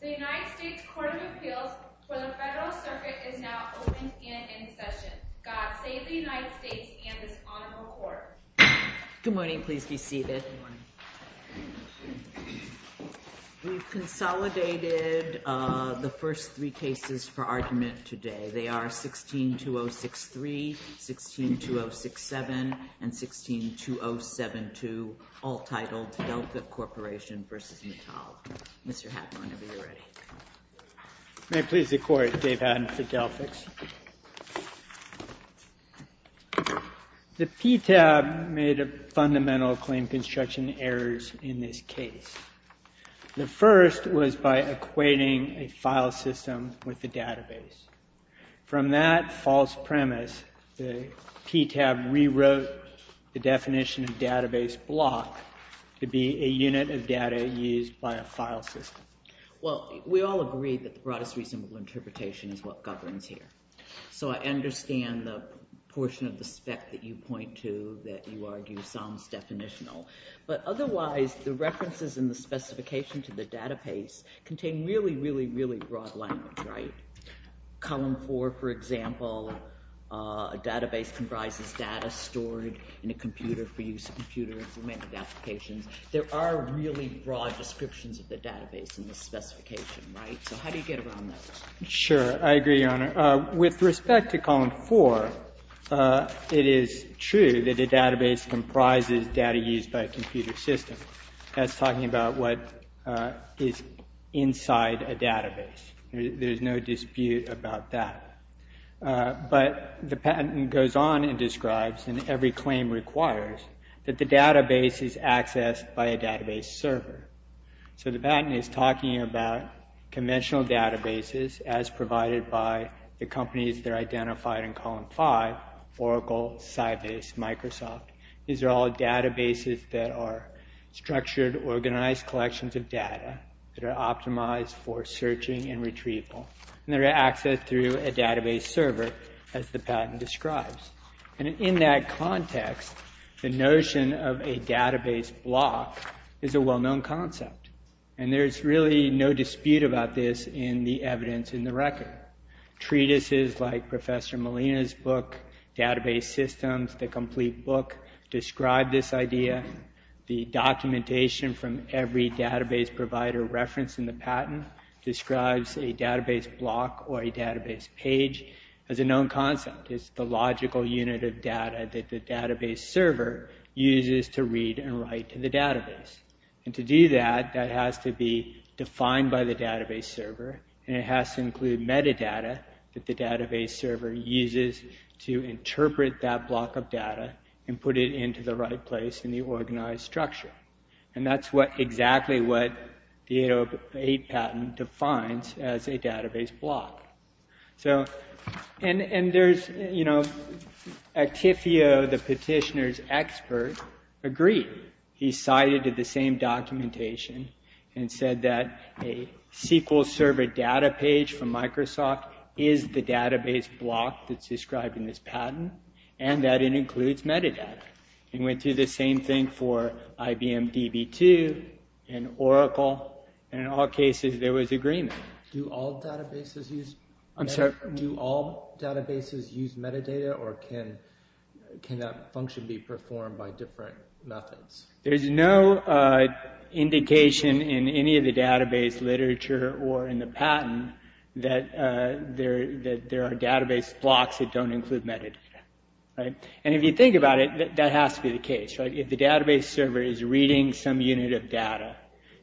The United States Court of Appeals for the Federal Circuit is now open and in session. God save the United States and this honorable court. Good morning. Please be seated. We've consolidated the first three cases for argument today. They are 16-2063, 16-2067, and 16-2072, all titled Delphix Corporation v. Matal. Mr. Hatton, whenever you're ready. May it please the Court, Dave Hatton for Delphix. The PTAB made a fundamental claim construction errors in this case. The first was by equating a file system with a database. From that false premise, the PTAB rewrote the definition of database block to be a unit of data used by a file system. Well, we all agree that the broadest reasonable interpretation is what governs here. So I understand the portion of the spec that you point to that you argue sounds definitional. But otherwise, the references in the specification to the database contain really, really, really broad language, right? Column 4, for example, a database comprises data stored in a computer for use in computer-implemented applications. There are really broad descriptions of the database in the specification, right? So how do you get around that? Sure. I agree, Your Honor. With respect to column 4, it is true that a database comprises data used by a computer system. That's talking about what is inside a database. There's no dispute about that. But the patent goes on and describes, and every claim requires, that the database is accessed by a database server. So the patent is talking about conventional databases as provided by the companies that are identified in column 5, Oracle, Sybase, Microsoft. These are all databases that are structured, organized collections of data that are optimized for searching and retrieval. And they're accessed through a database server, as the patent describes. And in that context, the notion of a database block is a well-known concept. And there's really no dispute about this in the evidence in the record. Treatises like Professor Molina's book, Database Systems, the complete book, describe this idea. The documentation from every database provider referenced in the patent describes a database block or a database page as a known concept. It's the logical unit of data that the database server uses to read and write to the database. And to do that, that has to be defined by the database server. And it has to include metadata that the database server uses to interpret that block of data and put it into the right place in the organized structure. And that's exactly what the 808 patent defines as a database block. So, and there's, you know, Actifio, the petitioner's expert, agreed. He cited the same documentation and said that a SQL server data page from Microsoft is the database block that's described in this patent. And that it includes metadata. And went through the same thing for IBM DB2 and Oracle. And in all cases, there was agreement. Do all databases use metadata or can that function be performed by different methods? There's no indication in any of the database literature or in the patent that there are database blocks that don't include metadata. And if you think about it, that has to be the case. If the database server is reading some unit of data,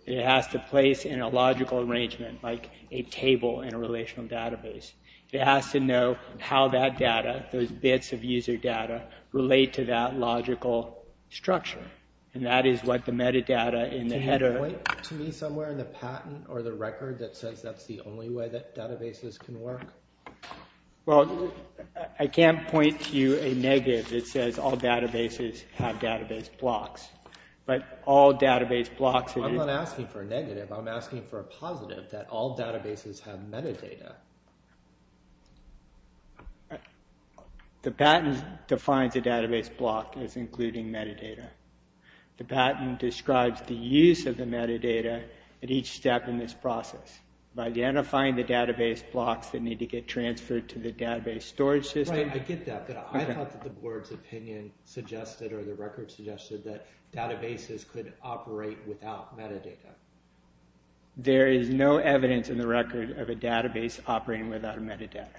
it has to place in a logical arrangement, like a table in a relational database. It has to know how that data, those bits of user data, relate to that logical structure. And that is what the metadata in the header. Can you point to me somewhere in the patent or the record that says that's the only way that databases can work? Well, I can't point to a negative that says all databases have database blocks. But all database blocks... I'm not asking for a negative, I'm asking for a positive that all databases have metadata. The patent defines a database block as including metadata. The patent describes the use of the metadata at each step in this process. By identifying the database blocks that need to get transferred to the database storage system... Right, I get that, but I thought that the board's opinion suggested, or the record suggested, that databases could operate without metadata. There is no evidence in the record of a database operating without metadata.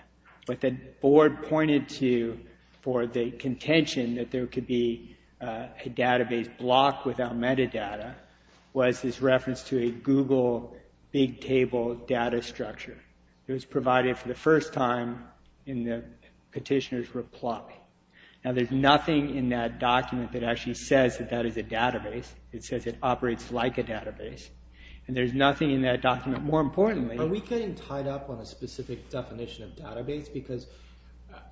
What the board pointed to for the contention that there could be a database block without metadata was this reference to a Google Big Table data structure. It was provided for the first time in the petitioner's reply. Now, there's nothing in that document that actually says that that is a database. It says it operates like a database. And there's nothing in that document... Are we getting tied up on a specific definition of database? Because,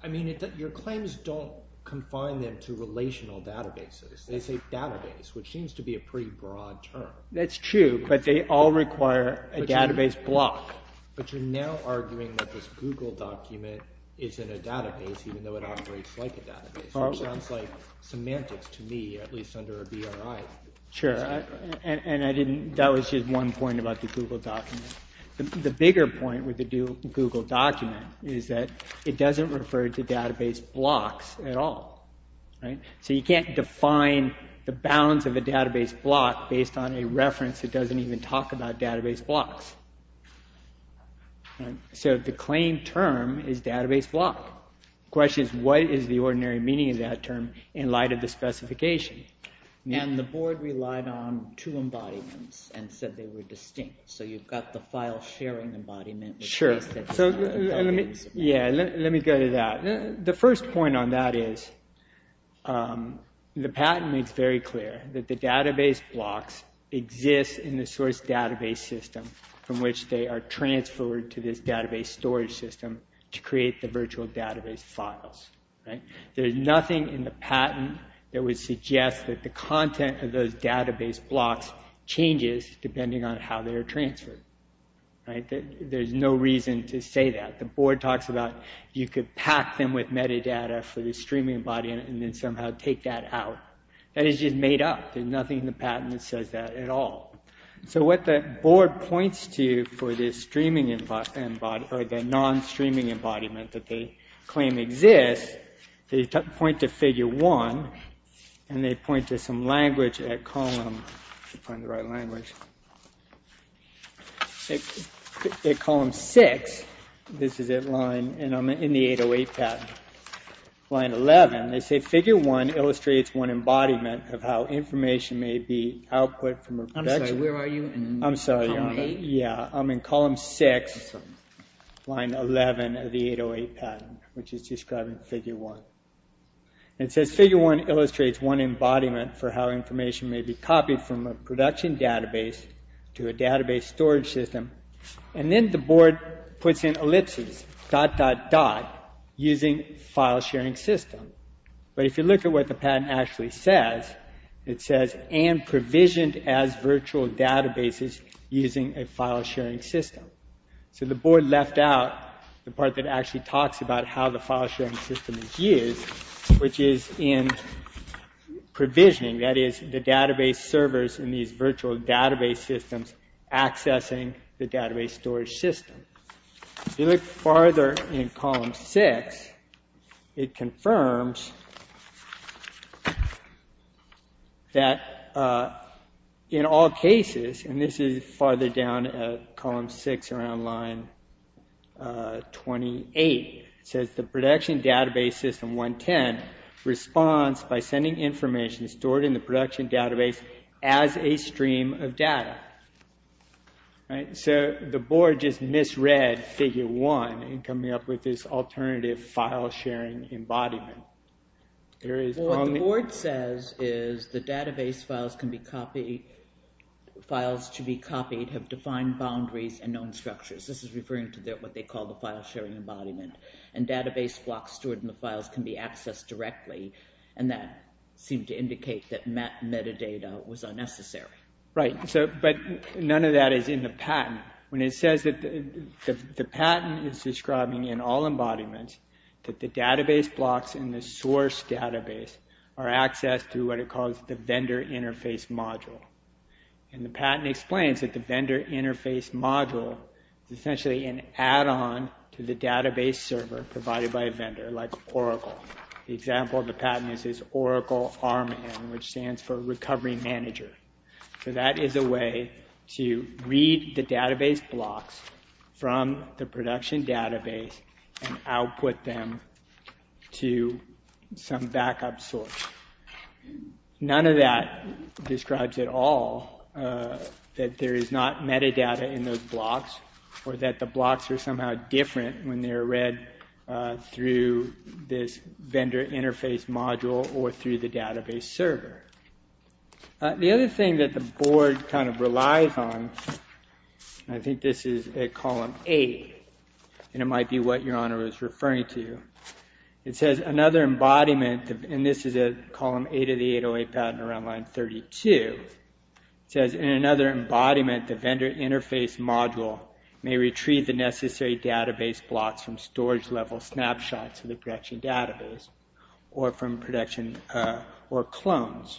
I mean, your claims don't confine them to relational databases. They say database, which seems to be a pretty broad term. That's true, but they all require a database block. But you're now arguing that this Google document is in a database, even though it operates like a database. Which sounds like semantics to me, at least under a BRI. Sure, and that was just one point about the Google document. The bigger point with the Google document is that it doesn't refer to database blocks at all. So you can't define the balance of a database block based on a reference that doesn't even talk about database blocks. So the claim term is database block. The question is, what is the ordinary meaning of that term in light of the specification? And the board relied on two embodiments and said they were distinct. So you've got the file sharing embodiment. Sure. Yeah, let me go to that. The first point on that is the patent makes very clear that the database blocks exist in the source database system from which they are transferred to this database storage system to create the virtual database files. There's nothing in the patent that would suggest that the content of those database blocks changes depending on how they are transferred. There's no reason to say that. The board talks about you could pack them with metadata for the streaming body and then somehow take that out. That is just made up. There's nothing in the patent that says that at all. So what the board points to for the non-streaming embodiment that they claim exists, they point to figure 1 and they point to some language at column 6. This is in the 808 patent, line 11. They say figure 1 illustrates one embodiment of how information may be output from a production... I'm sorry, where are you? I'm sorry. Column 8? Yeah, I'm in column 6, line 11 of the 808 patent, which is describing figure 1. It says figure 1 illustrates one embodiment for how information may be copied from a production database to a database storage system. And then the board puts in ellipses, dot, dot, dot, using file sharing system. But if you look at what the patent actually says, it says and provisioned as virtual databases using a file sharing system. So the board left out the part that actually talks about how the file sharing system is used, which is in provisioning. That is the database servers in these virtual database systems accessing the database storage system. If you look farther in column 6, it confirms that in all cases, and this is farther down at column 6 around line 28, it says the production database system 110 responds by sending information stored in the production database as a stream of data. So the board just misread figure 1 in coming up with this alternative file sharing embodiment. What the board says is the database files can be copied, files to be copied have defined boundaries and known structures. This is referring to what they call the file sharing embodiment. And database blocks stored in the files can be accessed directly, and that seemed to indicate that metadata was unnecessary. Right, but none of that is in the patent. When it says that the patent is describing in all embodiments that the database blocks in the source database are accessed through what it calls the vendor interface module. And the patent explains that the vendor interface module is essentially an add-on to the database server provided by a vendor like Oracle. The example of the patent is Oracle RMAN, which stands for recovery manager. So that is a way to read the database blocks from the production database and output them to some backup source. None of that describes at all that there is not metadata in those blocks or that the blocks are somehow different when they're read through this vendor interface module or through the database server. The other thing that the board kind of relies on, I think this is a column A, and it might be what your honor is referring to. It says another embodiment, and this is a column A to the 808 patent around line 32. It says in another embodiment the vendor interface module may retrieve the necessary database blocks from storage level snapshots of the production database or from production or clones.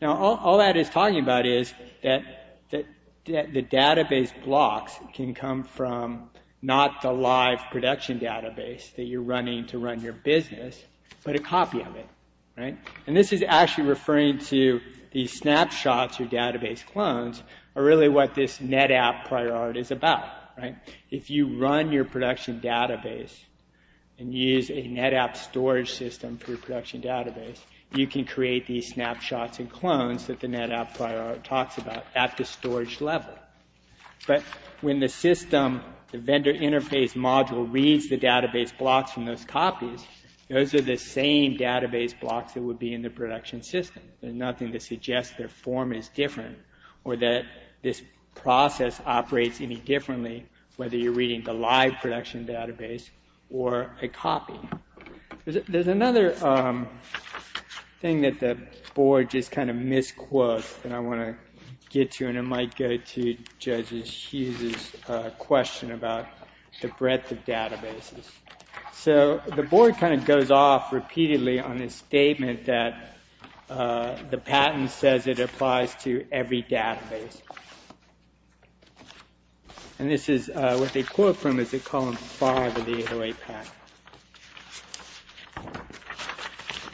Now all that is talking about is that the database blocks can come from not the live production database that you're running to run your business, but a copy of it. And this is actually referring to these snapshots or database clones are really what this NetApp priority is about. If you run your production database and use a NetApp storage system for your production database, you can create these snapshots and clones that the NetApp priority talks about at the storage level. But when the vendor interface module reads the database blocks from those copies, those are the same database blocks that would be in the production system. There's nothing to suggest their form is different or that this process operates any differently whether you're reading the live production database or a copy. There's another thing that the board just kind of misquotes that I want to get to, and it might go to Judge Hughes' question about the breadth of databases. So the board kind of goes off repeatedly on this statement that the patent says it applies to every database. And this is what they quote from, is in column five of the 808 patent.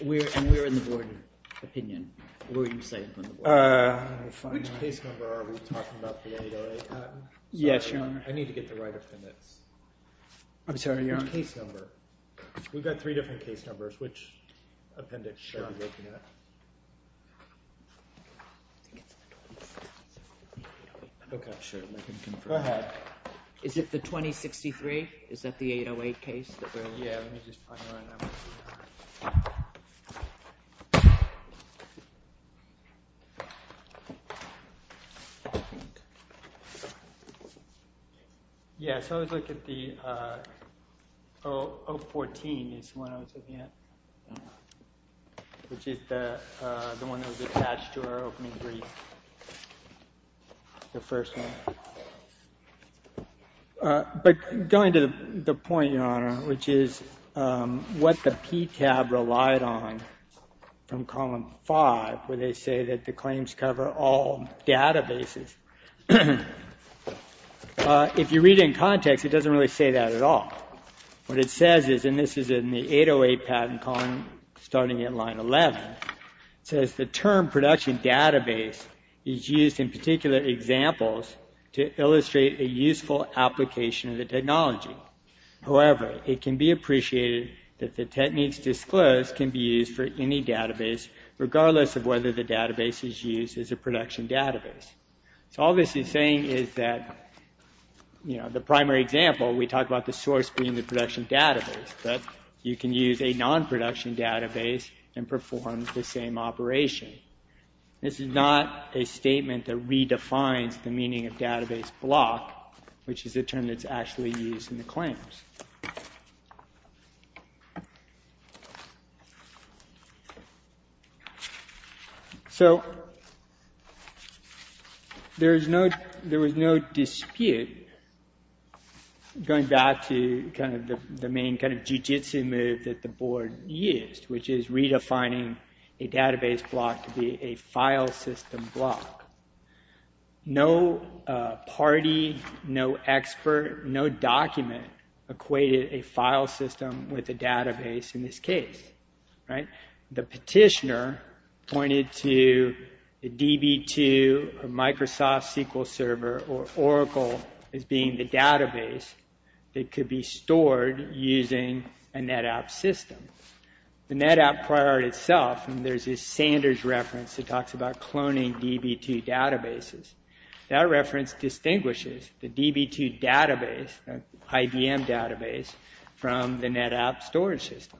And we're in the board opinion. What would you say? Which case number are we talking about for the 808 patent? Yes, Your Honor. I need to get the right of permits. I'm sorry, Your Honor. Which case number? We've got three different case numbers. Which appendix should I be looking at? Go ahead. Is it the 2063? Is that the 808 case? Yeah, let me just find the right number. Yeah, so let's look at the 014 is the one I was looking at, which is the one that was attached to our opening brief, the first one. But going to the point, Your Honor, which is what the PTAB relied on from column five, where they say that the claims cover all databases. If you read it in context, it doesn't really say that at all. What it says is, and this is in the 808 patent column, starting at line 11, it says the term production database is used in particular examples to illustrate a useful application of the technology. However, it can be appreciated that the techniques disclosed can be used for any database, regardless of whether the database is used as a production database. So all this is saying is that the primary example, we talked about the source being the production database, but you can use a non-production database and perform the same operation. This is not a statement that redefines the meaning of database block, which is a term that's actually used in the claims. There was no dispute, going back to the main jiu-jitsu move that the board used, which is redefining a database block to be a file system block. No party, no expert, no document equated a file system with a database in this case. The petitioner pointed to the DB2 or Microsoft SQL Server or Oracle as being the database that could be stored using a NetApp system. The NetApp prior itself, there's this Sanders reference that talks about cloning DB2 databases. That reference distinguishes the DB2 database, IBM database, from the NetApp storage system.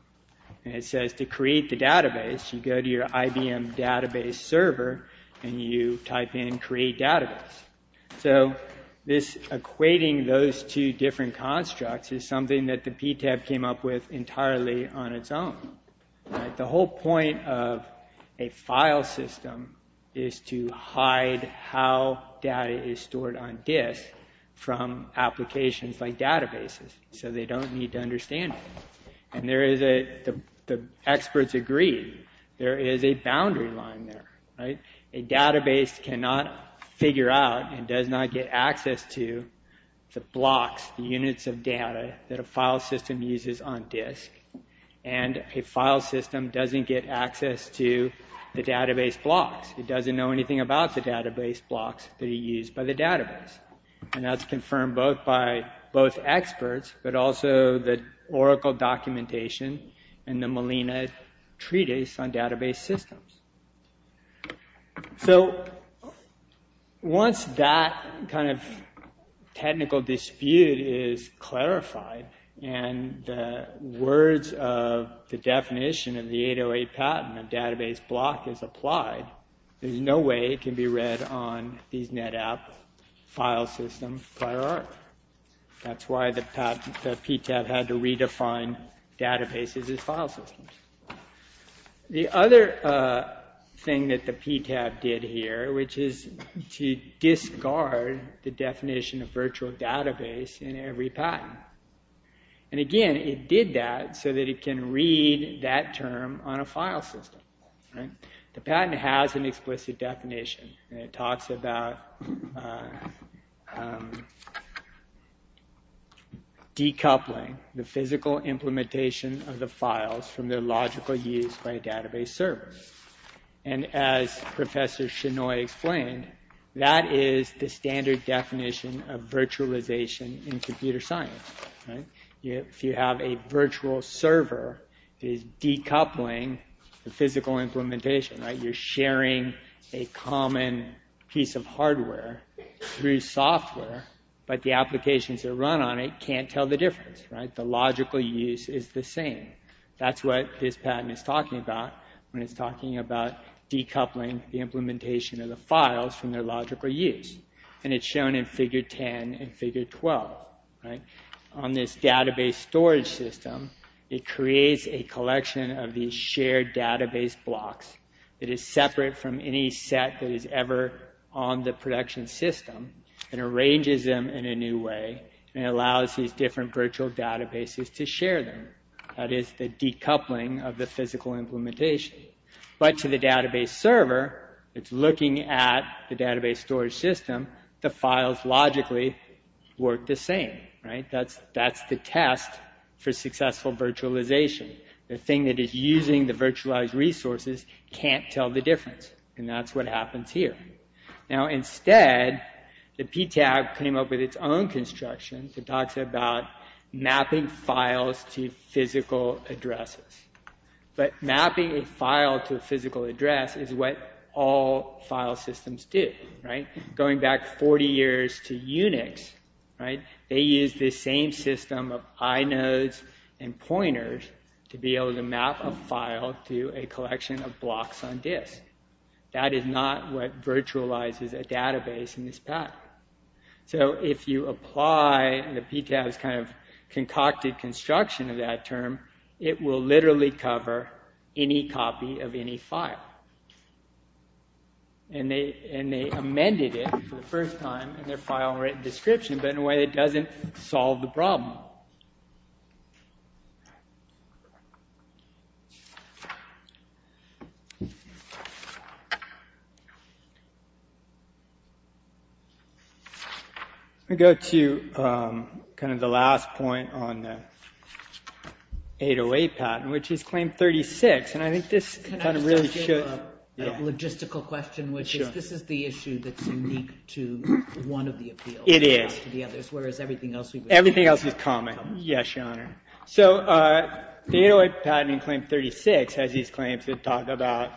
It says to create the database, you go to your IBM database server and you type in create database. Equating those two different constructs is something that the PTAB came up with entirely on its own. The whole point of a file system is to hide how data is stored on disk from applications like databases so they don't need to understand it. The experts agree, there is a boundary line there. A database cannot figure out and does not get access to the blocks, the units of data that a file system uses on disk. A file system doesn't get access to the database blocks. It doesn't know anything about the database blocks that are used by the database. That's confirmed by both experts but also the Oracle documentation and the Molina treatise on database systems. Once that technical dispute is clarified and the words of the definition of the 808 patent of database block is applied, there's no way it can be read on these NetApp file system prior art. That's why the PTAB had to redefine databases as file systems. The other thing that the PTAB did here is to discard the definition of virtual database in every patent. It did that so that it can read that term on a file system. The patent has an explicit definition. It talks about decoupling the physical implementation of the files from their logical use by a database server. As Professor Shinoy explained, that is the standard definition of virtualization in computer science. If you have a virtual server, it is decoupling the physical implementation. You're sharing a common piece of hardware through software, but the applications that run on it can't tell the difference. The logical use is the same. That's what this patent is talking about when it's talking about decoupling the implementation of the files from their logical use. It's shown in figure 10 and figure 12. On this database storage system, it creates a collection of these shared database blocks. It is separate from any set that is ever on the production system and arranges them in a new way. It allows these different virtual databases to share them. That is the decoupling of the physical implementation. To the database server, it's looking at the database storage system. The files logically work the same. That's the test for successful virtualization. The thing that is using the virtualized resources can't tell the difference. That's what happens here. Instead, the PTAC came up with its own construction. It talks about mapping files to physical addresses. Mapping a file to a physical address is what all file systems do. Going back 40 years to Unix, they used the same system of inodes and pointers to be able to map a file to a collection of blocks on disk. That is not what virtualizes a database in this path. If you apply the PTAC's concocted construction of that term, it will literally cover any copy of any file. They amended it for the first time in their file-written description, but in a way that doesn't solve the problem. Let me go to the last point on the 808 patent, which is Claim 36. Can I ask a logistical question? This is the issue that is unique to one of the appeals. It is. Everything else is common. Yes, Your Honor. The 808 patent in Claim 36 has these claims that talk about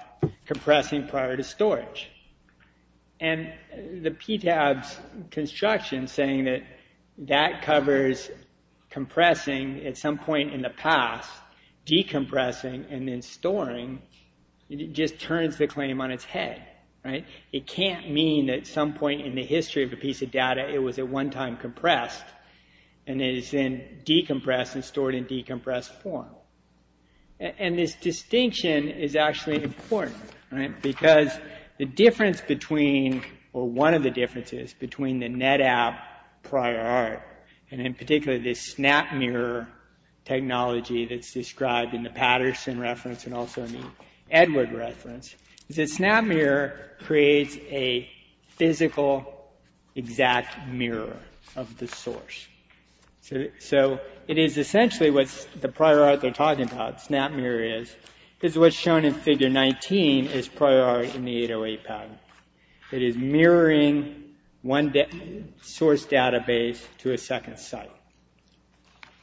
compressing prior to storage. The PTAC's construction, saying that that covers compressing at some point in the past, decompressing, and then storing, just turns the claim on its head. It can't mean that at some point in the history of a piece of data it was at one time compressed, and it is then decompressed and stored in decompressed form. This distinction is actually important. One of the differences between the NetApp prior art, and in particular this SnapMirror technology that is described in the Patterson reference and also in the Edward reference, is that SnapMirror creates a physical exact mirror of the source. It is essentially what the prior art they're talking about, SnapMirror, is. This is what's shown in Figure 19 as prior art in the 808 patent. It is mirroring one source database to a second site.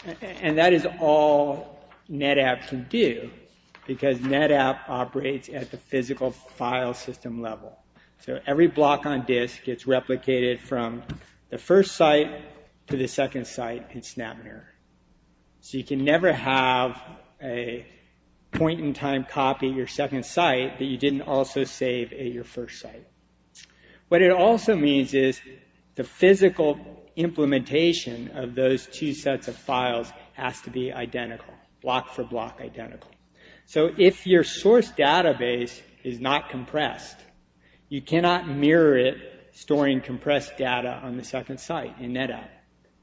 That is all NetApp can do, because NetApp operates at the physical file system level. Every block on disk gets replicated from the first site to the second site in SnapMirror. You can never have a point-in-time copy of your second site that you didn't also save at your first site. What it also means is the physical implementation of those two sets of files has to be identical, block for block identical. If your source database is not compressed, you cannot mirror it storing compressed data on the second site in NetApp.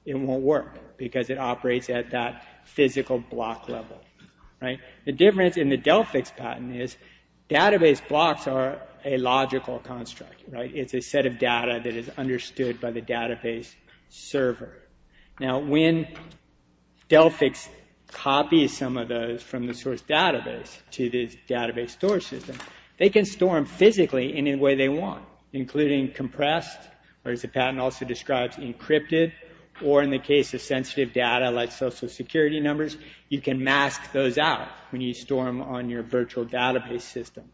It won't work, because it operates at that physical block level. The difference in the Delphix patent is database blocks are a logical construct. It's a set of data that is understood by the database server. When Delphix copies some of those from the source database to the database store system, they can store them physically any way they want, including compressed, or as the patent also describes, encrypted, or in the case of sensitive data like social security numbers, you can mask those out when you store them on your virtual database system.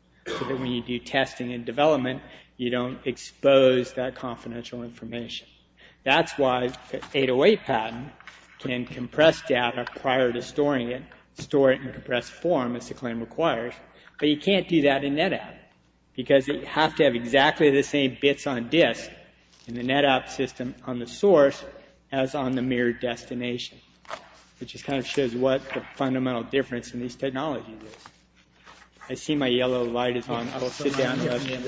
When you do testing and development, you don't expose that confidential information. That's why the 808 patent can compress data prior to storing it, store it in a compressed form as the claim requires, but you can't do that in NetApp, because you have to have exactly the same bits on disk in the NetApp system on the source as on the mirrored destination, which just kind of shows what the fundamental difference in these technologies is. I see my yellow light is on. I will sit down. Good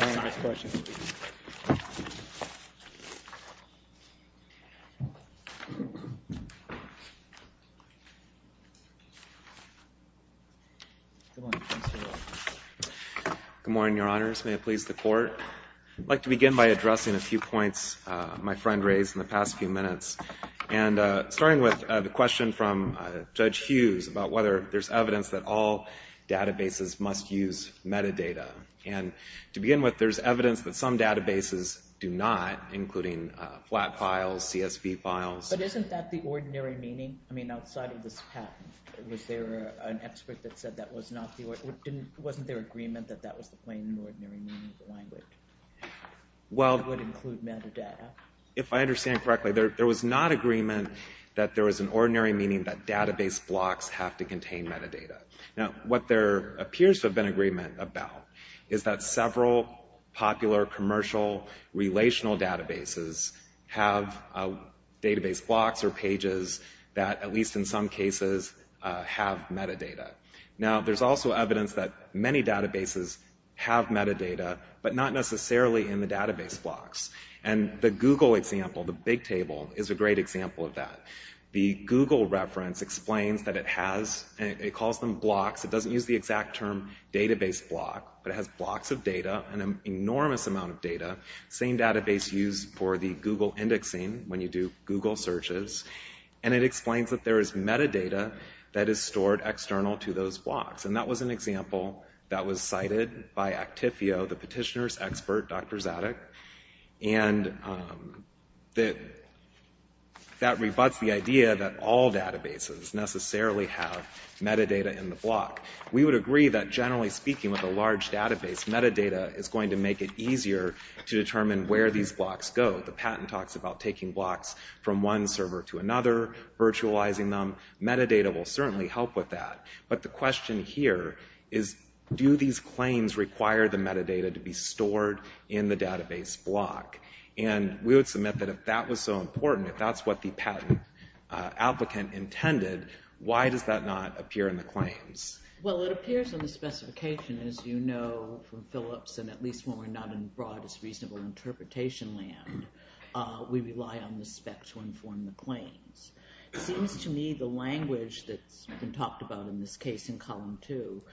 morning, Your Honors. May it please the Court. I'd like to begin by addressing a few points my friend raised in the past few minutes. And starting with the question from Judge Hughes about whether there's evidence that all databases must use metadata. And to begin with, there's evidence that some databases do not, including flat files, CSV files. But isn't that the ordinary meaning? I mean, outside of this patent, was there an expert that said that wasn't their agreement that that was the plain, ordinary meaning of the language? That it would include metadata? If I understand correctly, there was not agreement that there was an ordinary meaning that database blocks have to contain metadata. Now, what there appears to have been agreement about is that several popular commercial relational databases have database blocks or pages that, at least in some cases, have metadata. Now, there's also evidence that many databases have metadata, but not necessarily in the database blocks. And the Google example, the BigTable, is a great example of that. The Google reference explains that it has, it calls them blocks. It doesn't use the exact term database block, but it has blocks of data, an enormous amount of data. Same database used for the Google indexing when you do Google searches. And it explains that there is metadata that is stored external to those blocks. And that was an example that was cited by Actifio, the petitioner's expert, Dr. Zadig. And that rebuts the idea that all databases necessarily have metadata in the block. We would agree that, generally speaking, with a large database, metadata is going to make it easier to determine where these blocks go. The patent talks about taking blocks from one server to another, virtualizing them. Metadata will certainly help with that. But the question here is, do these claims require the metadata to be stored in the database block? And we would submit that if that was so important, if that's what the patent applicant intended, why does that not appear in the claims? Well, it appears in the specification, as you know from Phillips, and at least when we're not in broad as reasonable interpretation land, we rely on the spec to inform the claims. It seems to me the language that's been talked about in this case in column two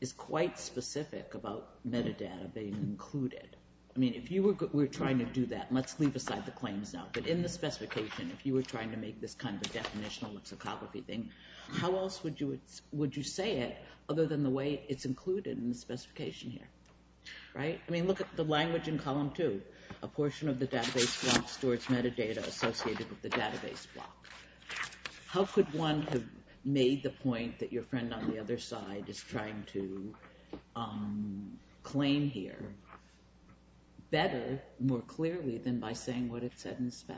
is quite specific about metadata being included. I mean, if you were trying to do that, and let's leave aside the claims now, but in the specification, if you were trying to make this kind of a definitional psychopathy thing, how else would you say it other than the way it's included in the specification here? Right? I mean, look at the language in column two. A portion of the database block stores metadata associated with the database block. How could one have made the point that your friend on the other side is trying to claim here better, more clearly, than by saying what it said in the spec?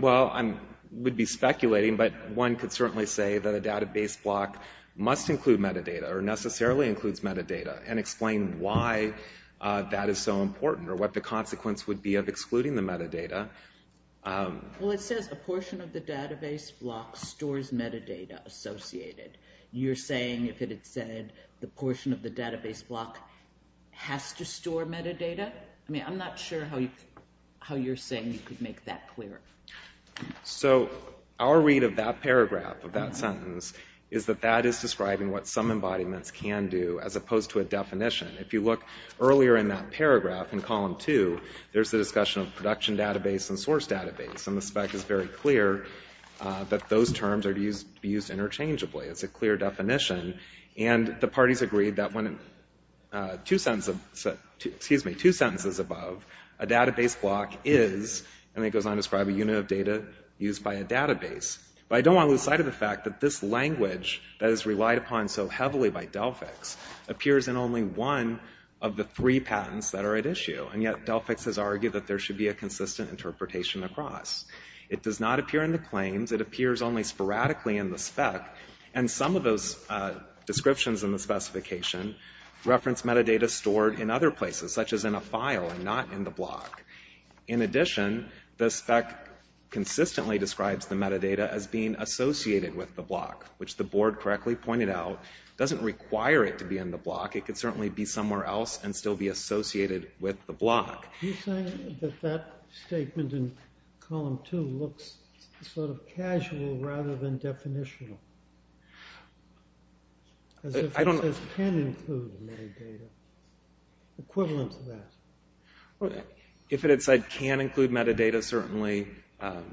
Well, I would be speculating, but one could certainly say that a database block must include metadata, or necessarily includes metadata, and explain why that is so important, or what the consequence would be of excluding the metadata. Well, it says a portion of the database block stores metadata associated. You're saying if it had said the portion of the database block has to store metadata? I mean, I'm not sure how you're saying you could make that clearer. So, our read of that paragraph, of that sentence, is that that is describing what some embodiments can do, as opposed to a definition. If you look earlier in that paragraph, in column two, there's the discussion of production database and source database, and the spec is very clear that those terms are used interchangeably. It's a clear definition, and the parties agreed that when two sentences above, a database block is, and then it goes on to describe a unit of data used by a database. But I don't want to lose sight of the fact that this language that is relied upon so heavily by Delphix, appears in only one of the three patents that are at issue, and yet Delphix has argued that there should be a consistent interpretation across. It does not appear in the claims. It appears only sporadically in the spec, and some of those descriptions in the specification reference metadata stored in other places, such as in a file and not in the block. In addition, the spec consistently describes the metadata as being associated with the block, which the board correctly pointed out, doesn't require it to be in the block. It could certainly be somewhere else and still be associated with the block. You're saying that that statement in column two looks sort of casual rather than definitional? I don't know. It can include metadata. Equivalent to that. If it had said can include metadata, certainly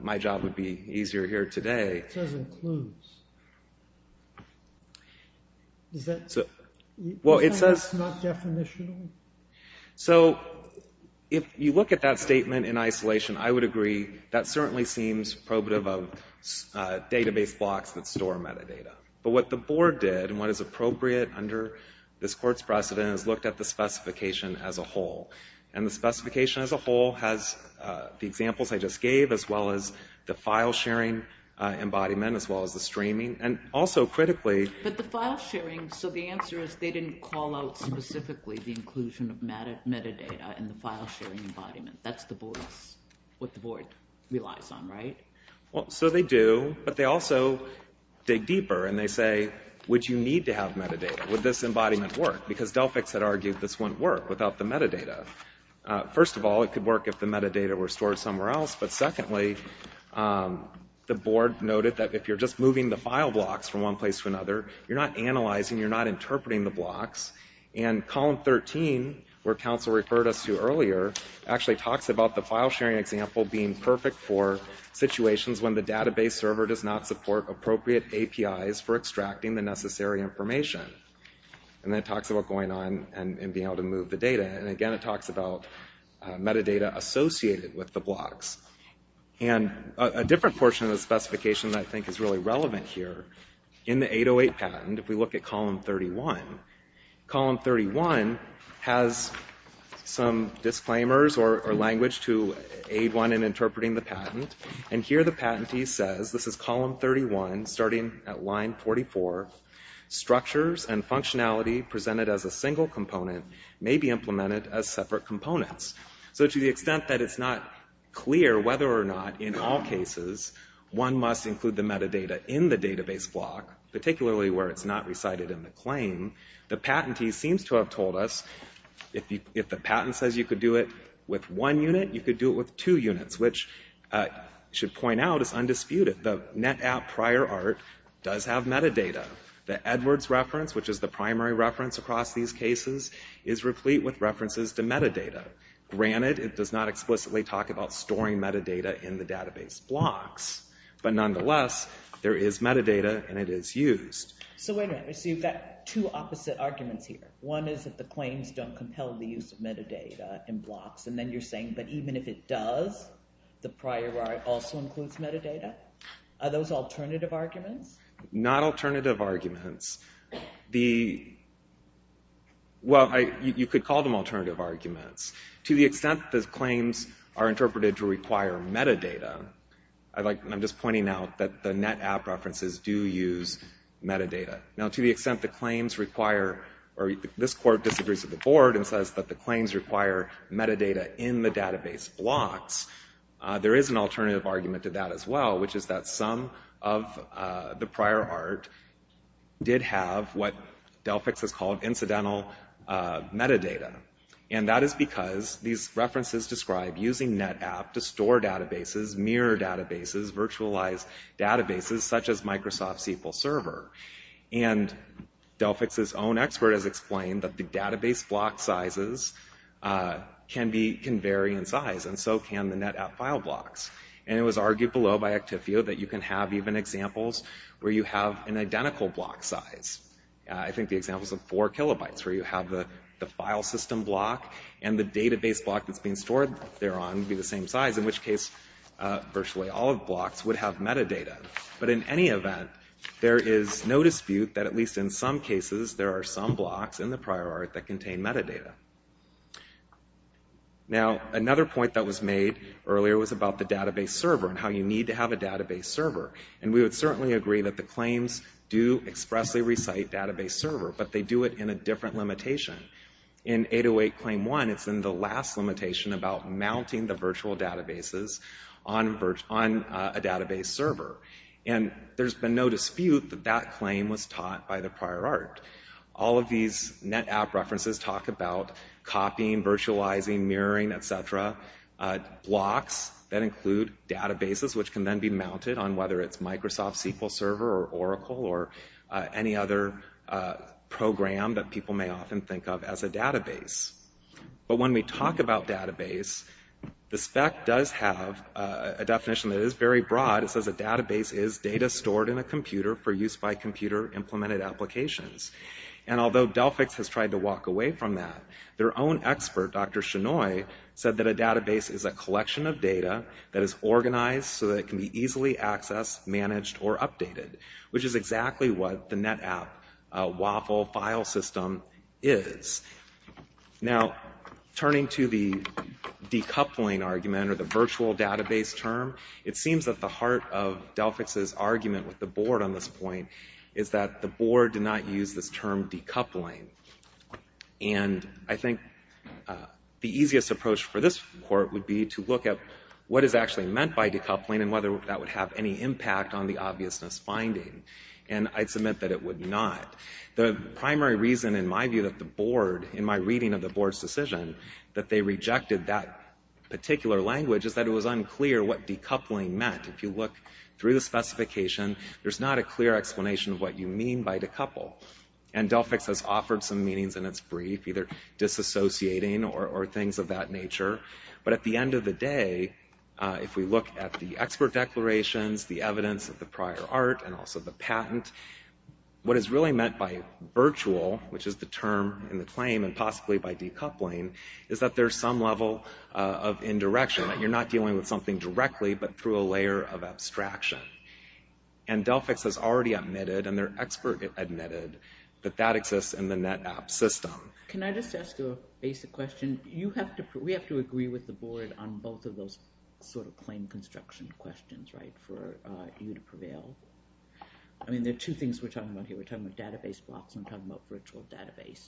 my job would be easier here today. It says includes. Does that mean it's not definitional? So, if you look at that statement in isolation, I would agree that certainly seems probative of database blocks that store metadata. But what the board did and what is appropriate under this court's precedent is looked at the specification as a whole. And the specification as a whole has the examples I just gave, as well as the file sharing embodiment, as well as the streaming. But the file sharing, so the answer is they didn't call out specifically the inclusion of metadata in the file sharing embodiment. That's what the board relies on, right? So they do, but they also dig deeper and they say, would you need to have metadata? Would this embodiment work? Because Delphix had argued this wouldn't work without the metadata. First of all, it could work if the metadata were stored somewhere else. But secondly, the board noted that if you're just moving the file blocks from one place to another, you're not analyzing, you're not interpreting the blocks. And column 13, where counsel referred us to earlier, actually talks about the file sharing example being perfect for situations when the database server does not support appropriate APIs for extracting the necessary information. And then it talks about going on and being able to move the data. And again, it talks about metadata associated with the blocks. And a different portion of the specification that I think is really relevant here, in the 808 patent, if we look at column 31, column 31 has some disclaimers or language to aid one in interpreting the patent. And here the patentee says, in column 31, starting at line 44, structures and functionality presented as a single component may be implemented as separate components. So to the extent that it's not clear whether or not, in all cases, one must include the metadata in the database block, particularly where it's not recited in the claim, the patentee seems to have told us if the patent says you could do it with one unit, you could do it with two units, which should point out is undisputed. The Ant App prior art does have metadata. The Edwards reference, which is the primary reference across these cases, is replete with references to metadata. Granted, it does not explicitly talk about storing metadata in the database blocks. But nonetheless, there is metadata and it is used. So wait a minute, so you've got two opposite arguments here. One is that the claims don't compel the use of metadata in blocks. And then you're saying, but even if it does, the prior art also includes metadata? Are those alternative arguments? Not alternative arguments. The, well, you could call them alternative arguments. To the extent that claims are interpreted to require metadata, I'm just pointing out that the Net App references do use metadata. Now, to the extent the claims require, or this court disagrees with the board and says that the claims require metadata in the database blocks, there is an alternative argument to that as well, which is that some of the prior art did have what Delphix has called incidental metadata. And that is because these references describe using Net App to store databases, mirror databases, virtualize databases, such as Microsoft SQL Server. And Delphix's own expert has explained that the database block sizes can vary in size, and so can the Net App file blocks. And it was argued below by Actifio that you can have even examples where you have an identical block size. I think the examples of four kilobytes where you have the file system block and the database block that's being stored thereon would be the same size, in which case virtually all of the blocks would have metadata. But in any event, there is no dispute that at least in some cases there are some blocks in the prior art that contain metadata. Now, another point that was made earlier was about the database server and how you need to have a database server. And we would certainly agree that the claims do expressly recite database server, but they do it in a different limitation. In 808 Claim 1, it's in the last limitation about mounting the virtual databases on a database server. And there's been no dispute that that claim was taught by the prior art. All of these Net App references talk about copying, virtualizing, mirroring, et cetera. Blocks that include databases which can then be mounted on whether it's Microsoft SQL Server or Oracle or any other program that people may often think of as a database. But when we talk about database, the spec does have a definition that is very broad. It says a database is data stored in a computer for use by computer-implemented applications. And although Delphix has tried to walk away from that, their own expert, Dr. Shenoy, argues that a virtual database is a collection of data that is organized so that it can be easily accessed, managed, or updated, which is exactly what the Net App WAFL file system is. Now, turning to the decoupling argument or the virtual database term, it seems that the heart of Delphix's argument with the board on this point is that the board did not use this term decoupling. And I think Delphix's support would be to look at what is actually meant by decoupling and whether that would have any impact on the obviousness finding. And I'd submit that it would not. The primary reason, in my view, that the board, in my reading of the board's decision, that they rejected that particular language is that it was unclear what decoupling meant. If you look through the specification, there's not a clear explanation of what you mean by decouple. And Delphix has offered some meanings but at the end of the day, if we look at the expert declarations, the evidence of the prior art and also the patent, what is really meant by virtual, which is the term in the claim and possibly by decoupling, is that there's some level of indirection, that you're not dealing with something directly but through a layer of abstraction. And Delphix has already admitted and their expert admitted Can I just ask you a basic question? We have to agree with the board on both of those sort of claim construction questions, right? For you to prevail? I mean, there are two things we're talking about here. We're talking about database blocks and we're talking about virtual database.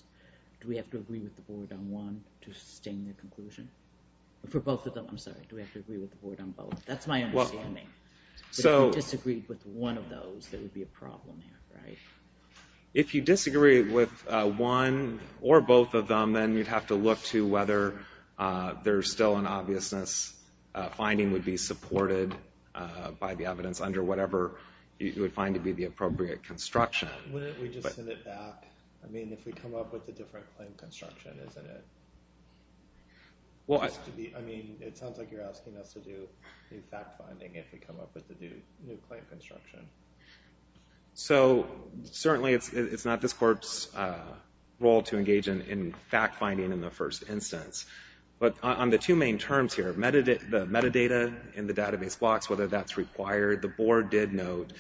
Do we have to agree with the board on one to sustain the conclusion? For both of them, I'm sorry, do we have to agree with the board on both? That's my understanding. If you disagreed with one of those, there would be a problem there, right? If you disagree with one or both of them, then you'd have to look to the board for obviousness. Finding would be supported by the evidence under whatever you would find to be the appropriate construction. Why don't we just send it back? I mean, if we come up with a different claim construction, isn't it? Well, I mean, it sounds like you're asking us to do the fact-finding if we come up with a new claim construction. So, certainly it's not this court's role to engage in fact-finding in the first instance. There's a couple of terms here. The metadata in the database blocks, whether that's required. The board did note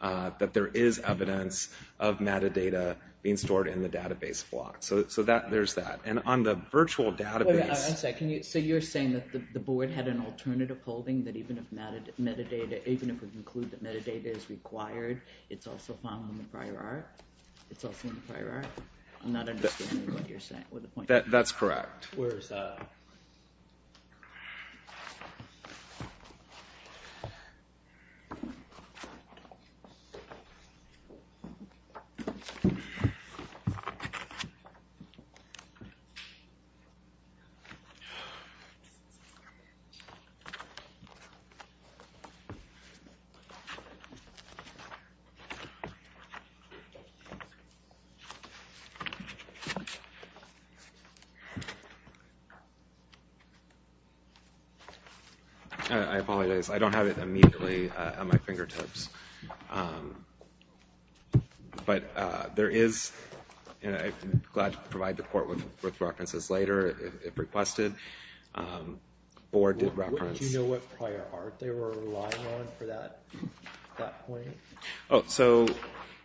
that there is evidence of metadata being stored in the database blocks. So, there's that. And on the virtual database. So, you're saying that the board had an alternative holding that even if we conclude that metadata is required, it's also found in the prior art? It's also in the prior art? I'm not understanding what you're saying there. I'm not understanding what you're saying. I apologize. I don't have it immediately at my fingertips. But there is, and I'm glad to provide the court with references later if requested, the board did reference. What did you know what prior art they were relying on for that point? Oh, so,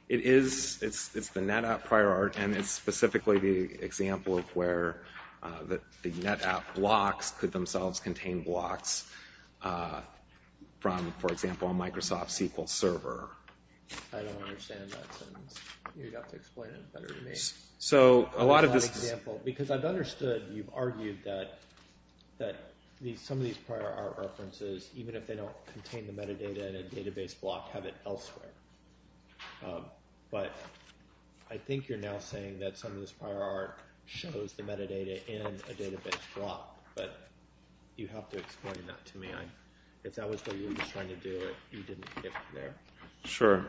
it is, it's the NetApp prior art and it's specifically the example of where the NetApp blocks contain blocks from, for example, a Microsoft SQL server. I don't understand that sentence. You'd have to explain it better to me. So, a lot of this is... Because I've understood, you've argued that some of these prior art references, even if they don't contain the metadata in a database block, have it elsewhere. But I think you're now saying that some of this prior art shows the metadata in a database block. You'd have to explain that to me. If that was what you were trying to do, you didn't get there. Sure.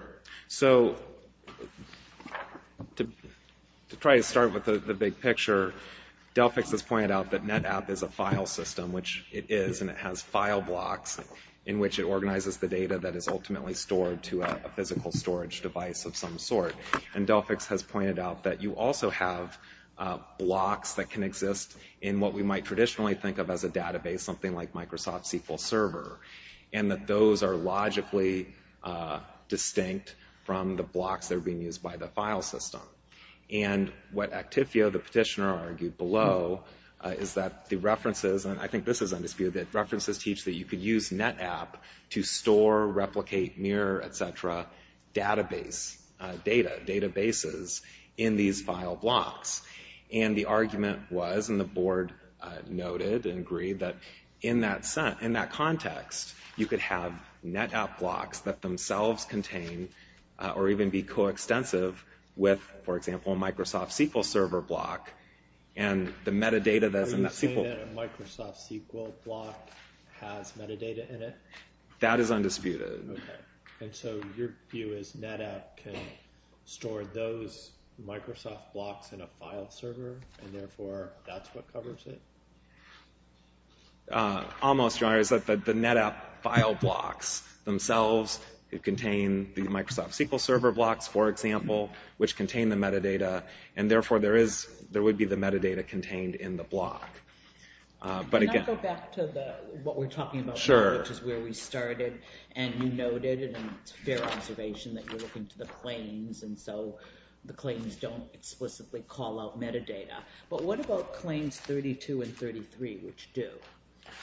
So, to try to start with the big picture, Delphix has pointed out that NetApp is a file system, which it is, and it has file blocks in which it organizes the data that is ultimately stored to a physical storage device of some sort. And Delphix has pointed out that you also have blocks that can exist in what we might traditionally think of as a database, something like Microsoft SQL Server, and that those are logically distinct from the blocks that are being used by the file system. And what Actifio, the petitioner, argued below, is that the references, and I think this is undisputed, that references teach that you could use NetApp to store, replicate, mirror, et cetera, databases in these file blocks. And the argument was, and the board noted and agreed, that in that context, you could have NetApp blocks that themselves contain or even be co-extensive with, for example, a Microsoft SQL Server block and the metadata that's in that SQL... Are you saying that a Microsoft SQL block That is undisputed. Okay. And so your view is NetApp can store those Microsoft blocks in a file server and therefore that's what covers it? Almost, Your Honor. It's that the NetApp file blocks themselves contain the Microsoft SQL Server blocks, for example, which contain the metadata and therefore there would be the metadata contained in the block. But again... Can I go back to what we're talking about Sure. which is where we started and you noted and it's fair observation that you're looking to the claims and so the claims don't explicitly call out metadata. But what about claims 32 and 33 which do?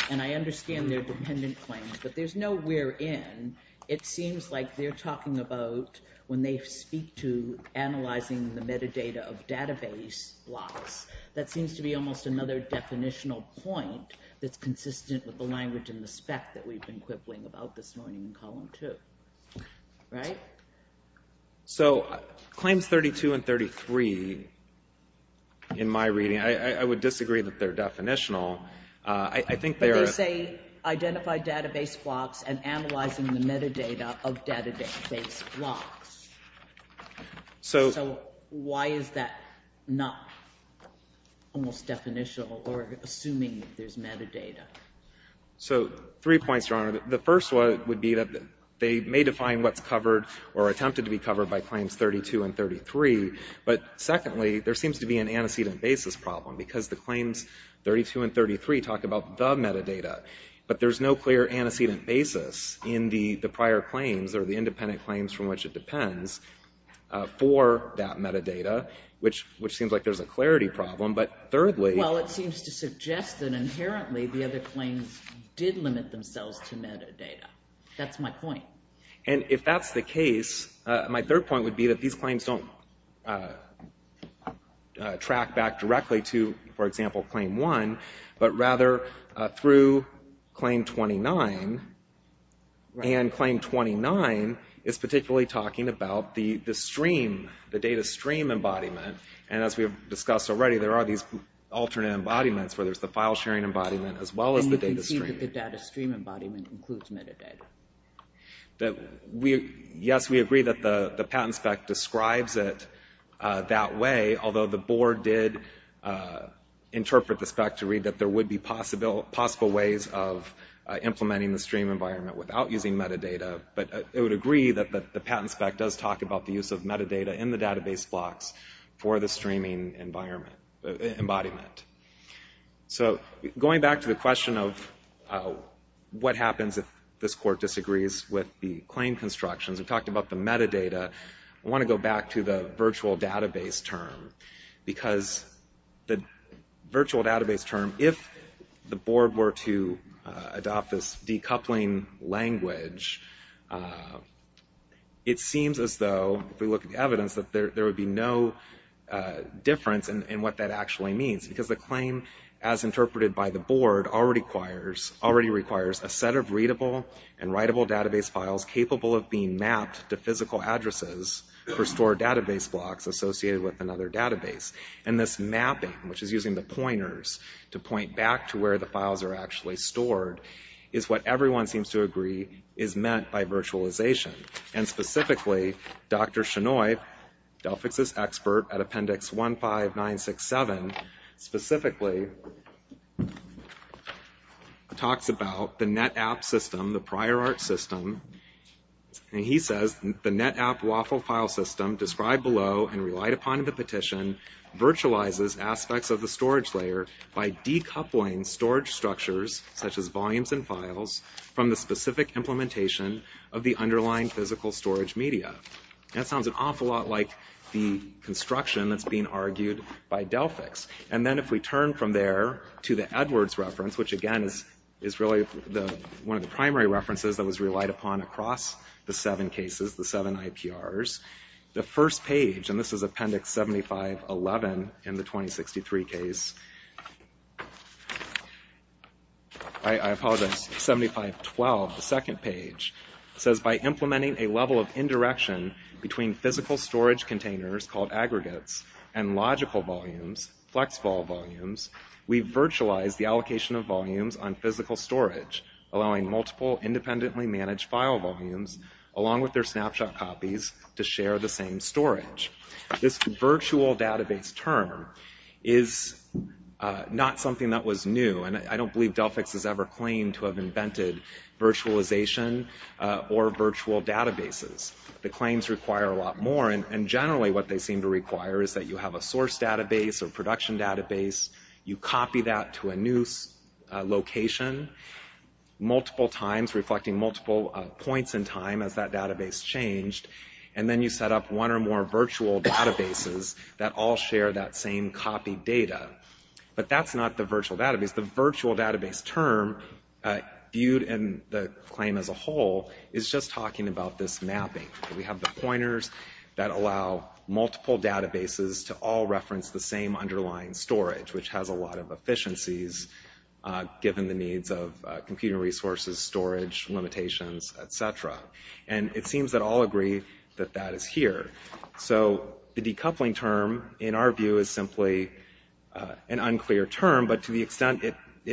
And I understand they're dependent claims but there's nowhere in it seems like they're talking about when they speak to analyzing the metadata of database blocks that seems to be almost another definitional point that's not even in column 2. Right? So claims 32 and 33 in my reading I would disagree that they're definitional. I think they're... But they say identify database blocks and analyzing the metadata of database blocks. So... So why is that not almost definitional or assuming there's metadata? So three points, Your Honor. The first one would be that they may define what's covered or attempted to be covered by claims 32 and 33 but secondly there seems to be an antecedent basis problem because the claims 32 and 33 talk about the metadata but there's no clear antecedent basis in the prior claims or the independent claims from which it depends for that metadata which seems like there's a clarity problem but thirdly... It seems to suggest that inherently the other claims did limit themselves to metadata. That's my point. And if that's the case my third point would be that these claims don't track back directly to for example claim 1 but rather through claim 29 and claim 29 is particularly talking about the stream, the data stream embodiment where there's the file sharing embodiment as well as the data stream. And you can see that the data stream embodiment includes metadata. Yes, we agree that the patent spec describes it that way although the board did interpret the spec to read that there would be possible ways of implementing the stream environment without using metadata but it would agree that the patent spec does talk about the use of metadata in the database blocks so going back to the question of what happens if this court disagrees with the claim constructions we talked about the metadata I want to go back to the virtual database term because the virtual database term if the board were to adopt this decoupling language it seems as though if we look at the evidence that there would be no difference in what that actually means as interpreted by the board already requires a set of readable and writable database files capable of being mapped to physical addresses for stored database blocks associated with another database and this mapping which is using the pointers to point back to where the files are actually stored is what everyone seems to agree is meant by virtualization and specifically talks about the NetApp system the prior art system and he says the NetApp waffle file system described below and relied upon in the petition virtualizes aspects of the storage layer by decoupling storage structures such as volumes and files from the specific implementation of the underlying physical storage media that sounds an awful lot like the construction that's being argued by Delphix similar to the Edwards reference which again is really one of the primary references that was relied upon across the seven cases the seven IPRs the first page and this is appendix 7511 in the 2063 case I apologize 7512, the second page says by implementing a level of indirection between physical storage containers called aggregates you virtualize the allocation of volumes on physical storage allowing multiple independently managed file volumes along with their snapshot copies to share the same storage this virtual database term is not something that was new and I don't believe Delphix has ever claimed to have invented virtualization or virtual databases the claims require a lot more and generally what they seem to require is that you have a source database and you apply that to a new location multiple times reflecting multiple points in time as that database changed and then you set up one or more virtual databases that all share that same copied data but that's not the virtual database the virtual database term viewed in the claim as a whole is just talking about this mapping we have the pointers that allow multiple databases to all reference the same efficiencies given the needs of computing resources, storage, limitations, etc. and it seems that all agree that that is here so the decoupling term in our view is simply an unclear term but to the extent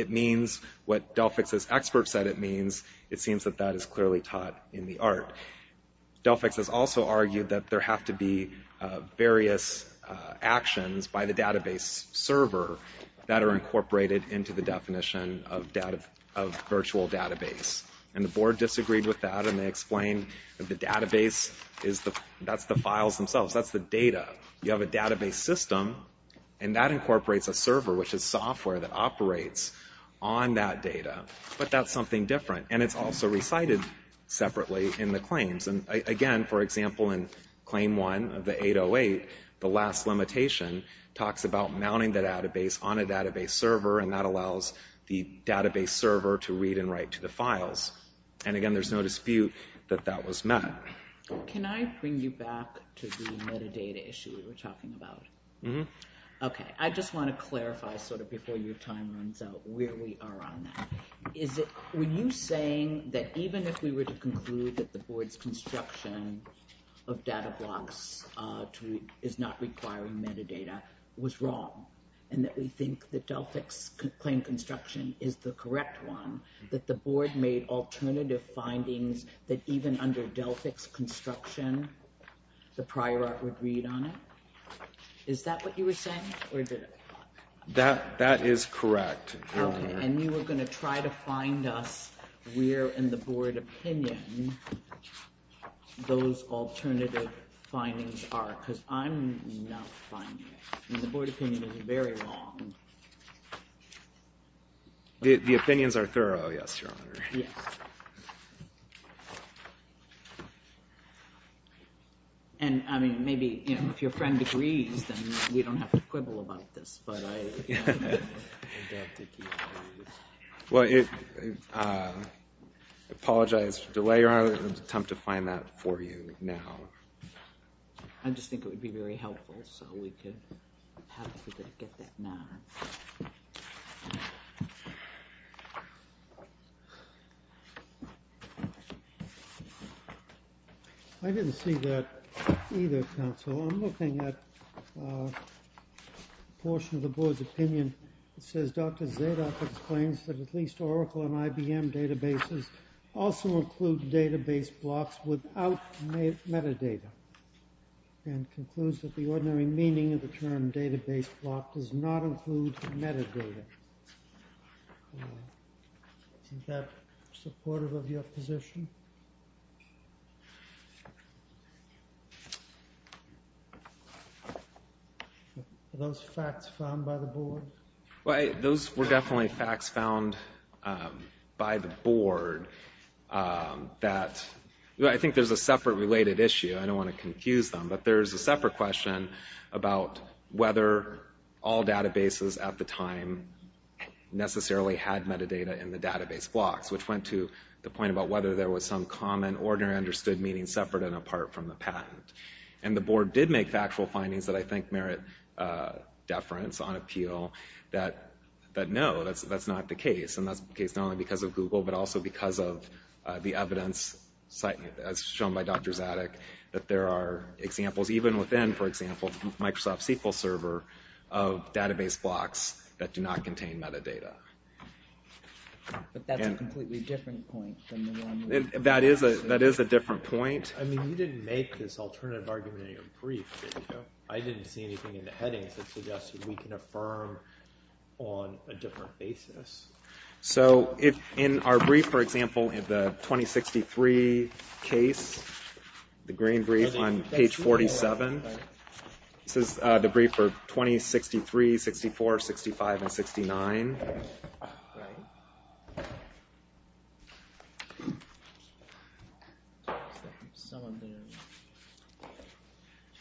it means what Delphix's experts said it means it seems that that is clearly taught in the art Delphix has also argued that there have to be something incorporated into the definition of virtual database and the board disagreed with that and they explained that the database that's the files themselves that's the data you have a database system and that incorporates a server which is software that operates on that data but that's something different and it's also recited separately in the claims server and that allows the database server to read and write to the files and again there's no dispute that that was met. Can I bring you back to the metadata issue we were talking about? I just want to clarify before your time runs out where we are on that were you saying that even if we were to conclude that the board's construction of data blocks claim construction is the correct one that the board made alternative findings that even under Delphix construction the prior art would read on it? Is that what you were saying? That is correct. And you were going to try to find us where in the board opinion those alternative findings are because I'm not finding it and the board opinion is very wrong. The opinions are thorough yes your honor. And I mean maybe if your friend agrees then we don't have to quibble about this. I apologize for the delay I will attempt to find that for you now. I just think it would be very helpful so we could get that now. I didn't see that either counsel I'm looking at a portion of the board's opinion it says Dr. Zadok explains that at least Oracle and IBM databases also include database blocks without metadata which means that the ordinary meaning of the term database block does not include metadata. Is that supportive of your position? Are those facts found by the board? Those were definitely facts found by the board that I think there's a separate related issue and discussion about whether all databases at the time necessarily had metadata in the database blocks which went to the point about whether there was some common ordinary understood meaning separate and apart from the patent and the board did make factual findings that I think merit deference on appeal that no that's not the case and that's the case not only because of Google but also because of the evidence as shown by Dr. Zadok that there are examples even within for example Microsoft SQL server of database blocks that do not contain metadata. But that's a completely different point than the one That is a different point. I mean you didn't make this alternative argument in your brief that I didn't see anything in the headings that suggested we can affirm on a different basis. So in our brief for example in the 2063 case the green brief on page 47 this is the brief for 2063 64 65 and 69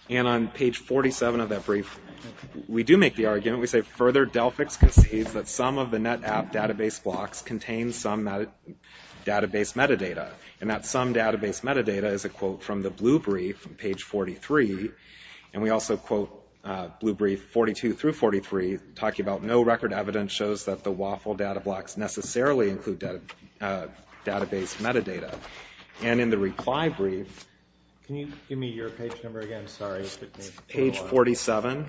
and on page 47 of that brief we do make the argument we say further Delphix concedes that some of the NetApp database blocks contain some database metadata and that some database metadata is a quote from the blue brief from page 43 and we also quote blue brief 42 through 43 talking about no record evidence shows that the waffle data blocks necessarily include database metadata and in the reply brief Can you give me your page number again? Sorry. Page 47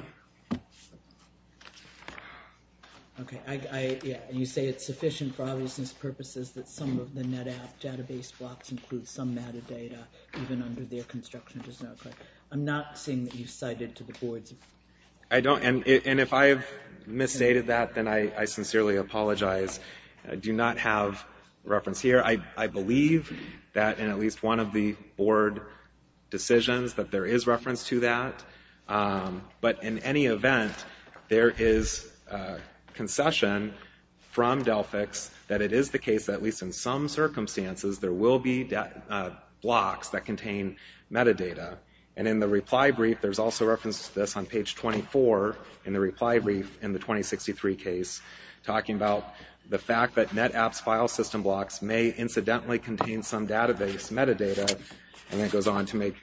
You say it's sufficient for obvious purposes that some of the NetApp database blocks include some metadata even under their construction does not I'm not saying that you cited to the boards I don't and if I've misstated that then I sincerely apologize I do not have reference here I believe that in at least one of the board decisions that there is reference to that but in any event there is concession from Delphix that it is the case that at least in some circumstances there will be blocks that contain metadata and in the reply brief there is also reference to this on page 24 in the reply brief in the 2063 case talking about the fact that NetApp's file system blocks may incidentally contain some database metadata and then it goes on to make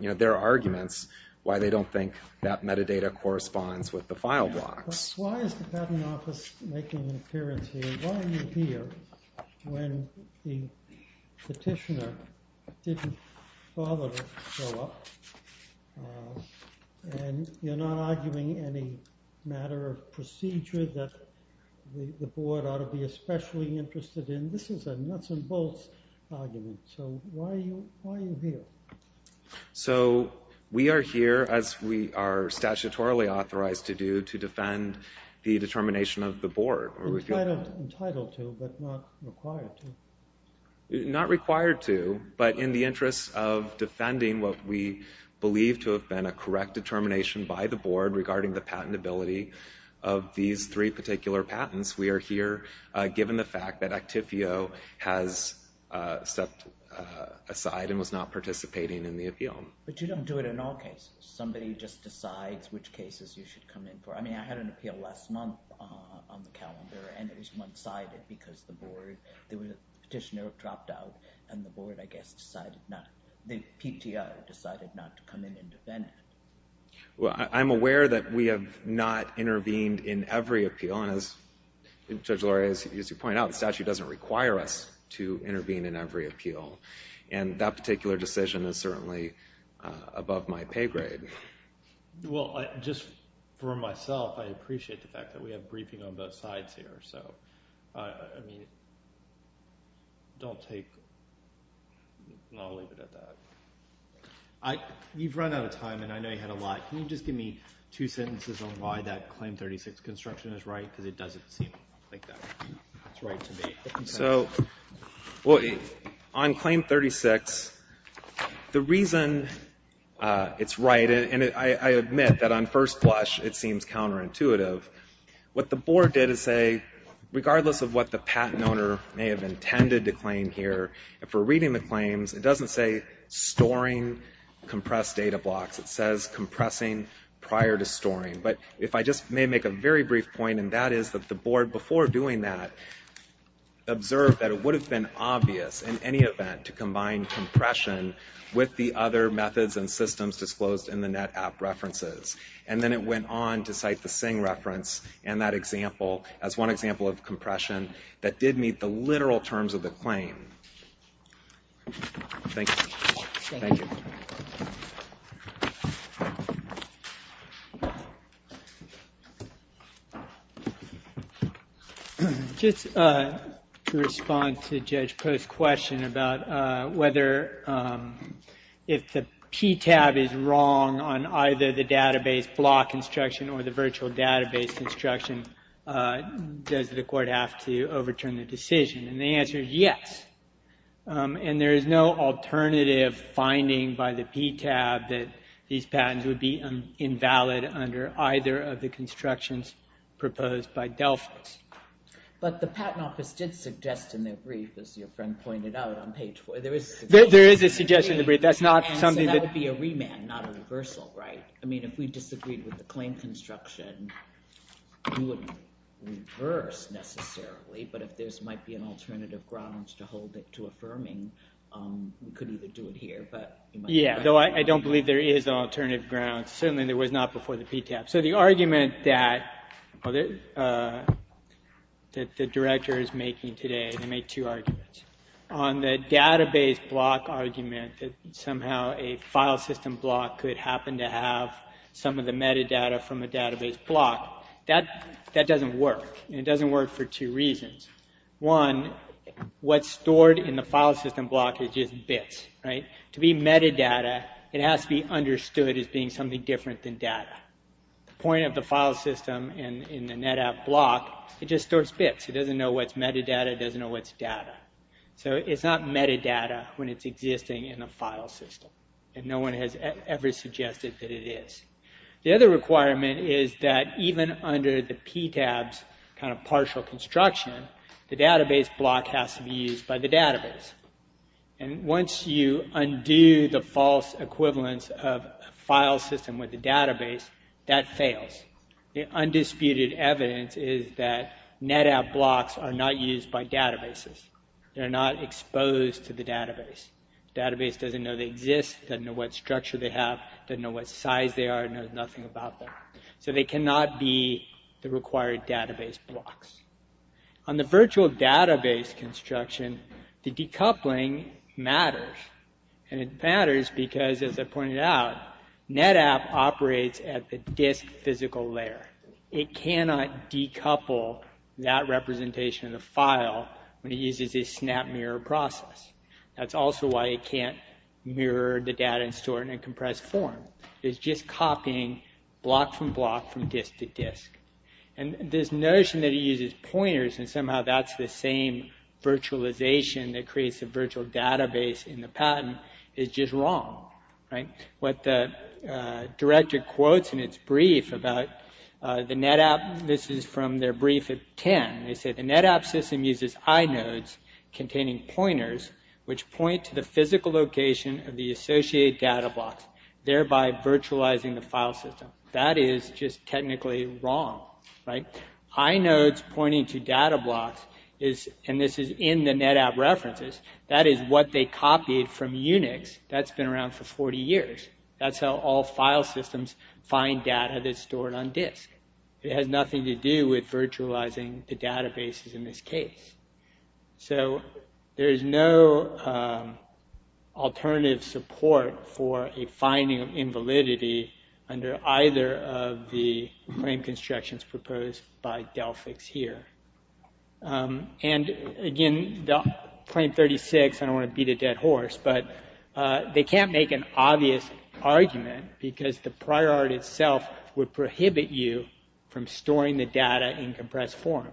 their arguments why they don't think that metadata corresponds with the file blocks Why is the patent office making an appearance here? Why are you here when the petitioner didn't bother to show up and you're not arguing any matter or procedure that the board ought to be especially interested in this is a nuts and bolts argument so why are you here? So we are here as we are statutorily authorized to do to defend the determination of the board Entitled to but not required to Not required to but in the interest of defending what we believe to have been a correct determination by the board regarding the patentability of these three particular patents we are here given the fact that Actifio has set aside and was not participating in the appeal But you don't do it in all cases somebody just decides which cases you should come in for I mean I had an appeal last month on the calendar and it was one sided because the board the petitioner dropped out and the board I guess decided not the PTR decided not to come in and defend it Well I'm aware that we have not intervened in every appeal and as Judge Luria pointed out the statute doesn't require us to intervene in every appeal and that particular decision is certainly above my pay grade Well just for myself I appreciate the fact that we have briefing on both sides here so I mean don't take I'll leave it at that I you've run out of time and I know you had a lot can you just give me two sentences on why that Claim 36 construction is right because it doesn't seem like that it's right to be So on Claim 36 the reason it's right and I admit that on first blush it seems counterintuitive what the board did is say regardless of what the patent owner may have intended to claim here if we're reading the claims it doesn't say storing compressed data blocks it says compressing prior to storing but if I just may make a very brief point and that is that the board before doing that observed that it would have been obvious in any event to combine compression with the other methods and systems disclosed in the net app references and then it went on to cite the sing reference and that example as one example of compression that did meet the literal terms of the claim Thank you. Thank you. Just to respond to Judge Post's question about whether if the PTAB is wrong on either the database block instruction or the virtual database instruction does the court have to overturn the decision and the answer is yes. And there is no alternative finding by the PTAB that these patents would be invalid under either of the constructions proposed by Delphix. But the patent office did suggest in their brief as your friend pointed out on page 4. There is a suggestion in the brief. That's not a reversal, right? If we disagreed with the claim construction we wouldn't reverse necessarily. But if there is an alternative grounds to hold it to affirming we could do it here. I don't believe there is an alternative grounds. The argument that the director is making today on the database block argument that somehow a file system block could happen to have some of the metadata from the database block, that doesn't work. It doesn't work for two reasons. One, what's stored in the file system block is just bits. To be metadata it has to be understood as being something different than data. The point of the file system in the NetApp block it just stores bits. It doesn't know what's metadata, it doesn't know what's data. So it's not metadata when it's existing in the file system. And no one has ever suggested that it is. The other requirement is that even under the database, that fails. The undisputed evidence is that NetApp blocks are not used by databases. They're not exposed to the database. The database doesn't know they exist, doesn't know what structure they have, doesn't know what size they are, doesn't know nothing about them. So they cannot be the required database blocks. On the virtual database construction, the decoupling matters. And it matters because, as I pointed out, NetApp operates at the disk physical layer. It cannot decouple that representation of the file when it uses a snap mirror process. That's also why it can't mirror the data in store in a compressed form. It's just copying block from block from disk to disk. And this notion that it uses pointers and somehow that's the same virtualization that creates a virtual database in the pattern is just wrong. What the director quotes in its brief about the NetApp, this is from their brief at 10, they said the NetApp system uses inodes containing pointers which point to the disk. That is just technically wrong. Inodes pointing to data blocks, and this is in the NetApp references, that is what they copied from Unix that's been around for 40 years. That's how all file systems find data that's stored on disk. It has nothing to do with virtualizing the databases in this way. That's one of the frame constructions proposed by Delphix here. And again, frame 36, I don't want to beat a dead horse, but they can't make an obvious argument because the priority itself would prohibit you from storing the data in compressed form.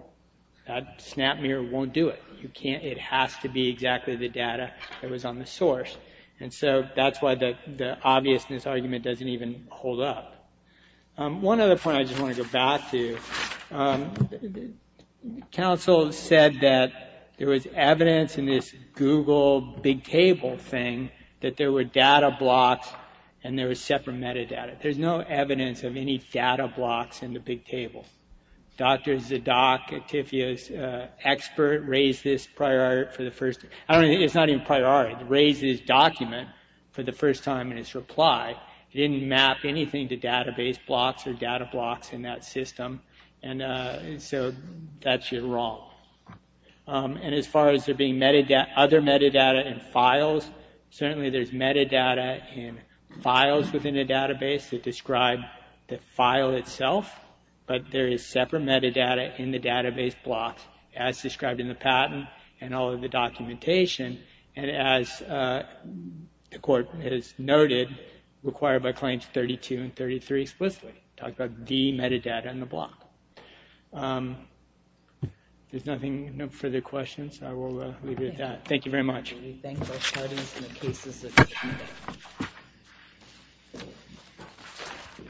That snap mirror won't do it. It has to be exactly the data that was on the source. And so that's why the obviousness argument doesn't even hold up. One other point I just want to go back to. Council said that there was evidence in this Google thing that there were data blocks and there was separate metadata. There's no evidence of any data blocks in the big table. Dr. Zadok, who wrote the document for the first time in his reply, didn't map anything to database blocks or data blocks in that system. And so that's your wrong. And as far as there being other metadata and files, certainly there's metadata and files within the database that describe the file itself, but there is separate metadata in the database blocks as described in the document. And as the court has noted, required by claims 32 and 33 explicitly, talk about the metadata in the block. Thank you very much. Thank you. Thank you. Thank you. Thank you. Thank you. Thank you. Thank you. Thank you. Thank you. Thank you. Thank you. Thank you. Thank you. Thank you. Thank you. Thank you. Thank you. Thanks. Thanks. Thanks. Thanks.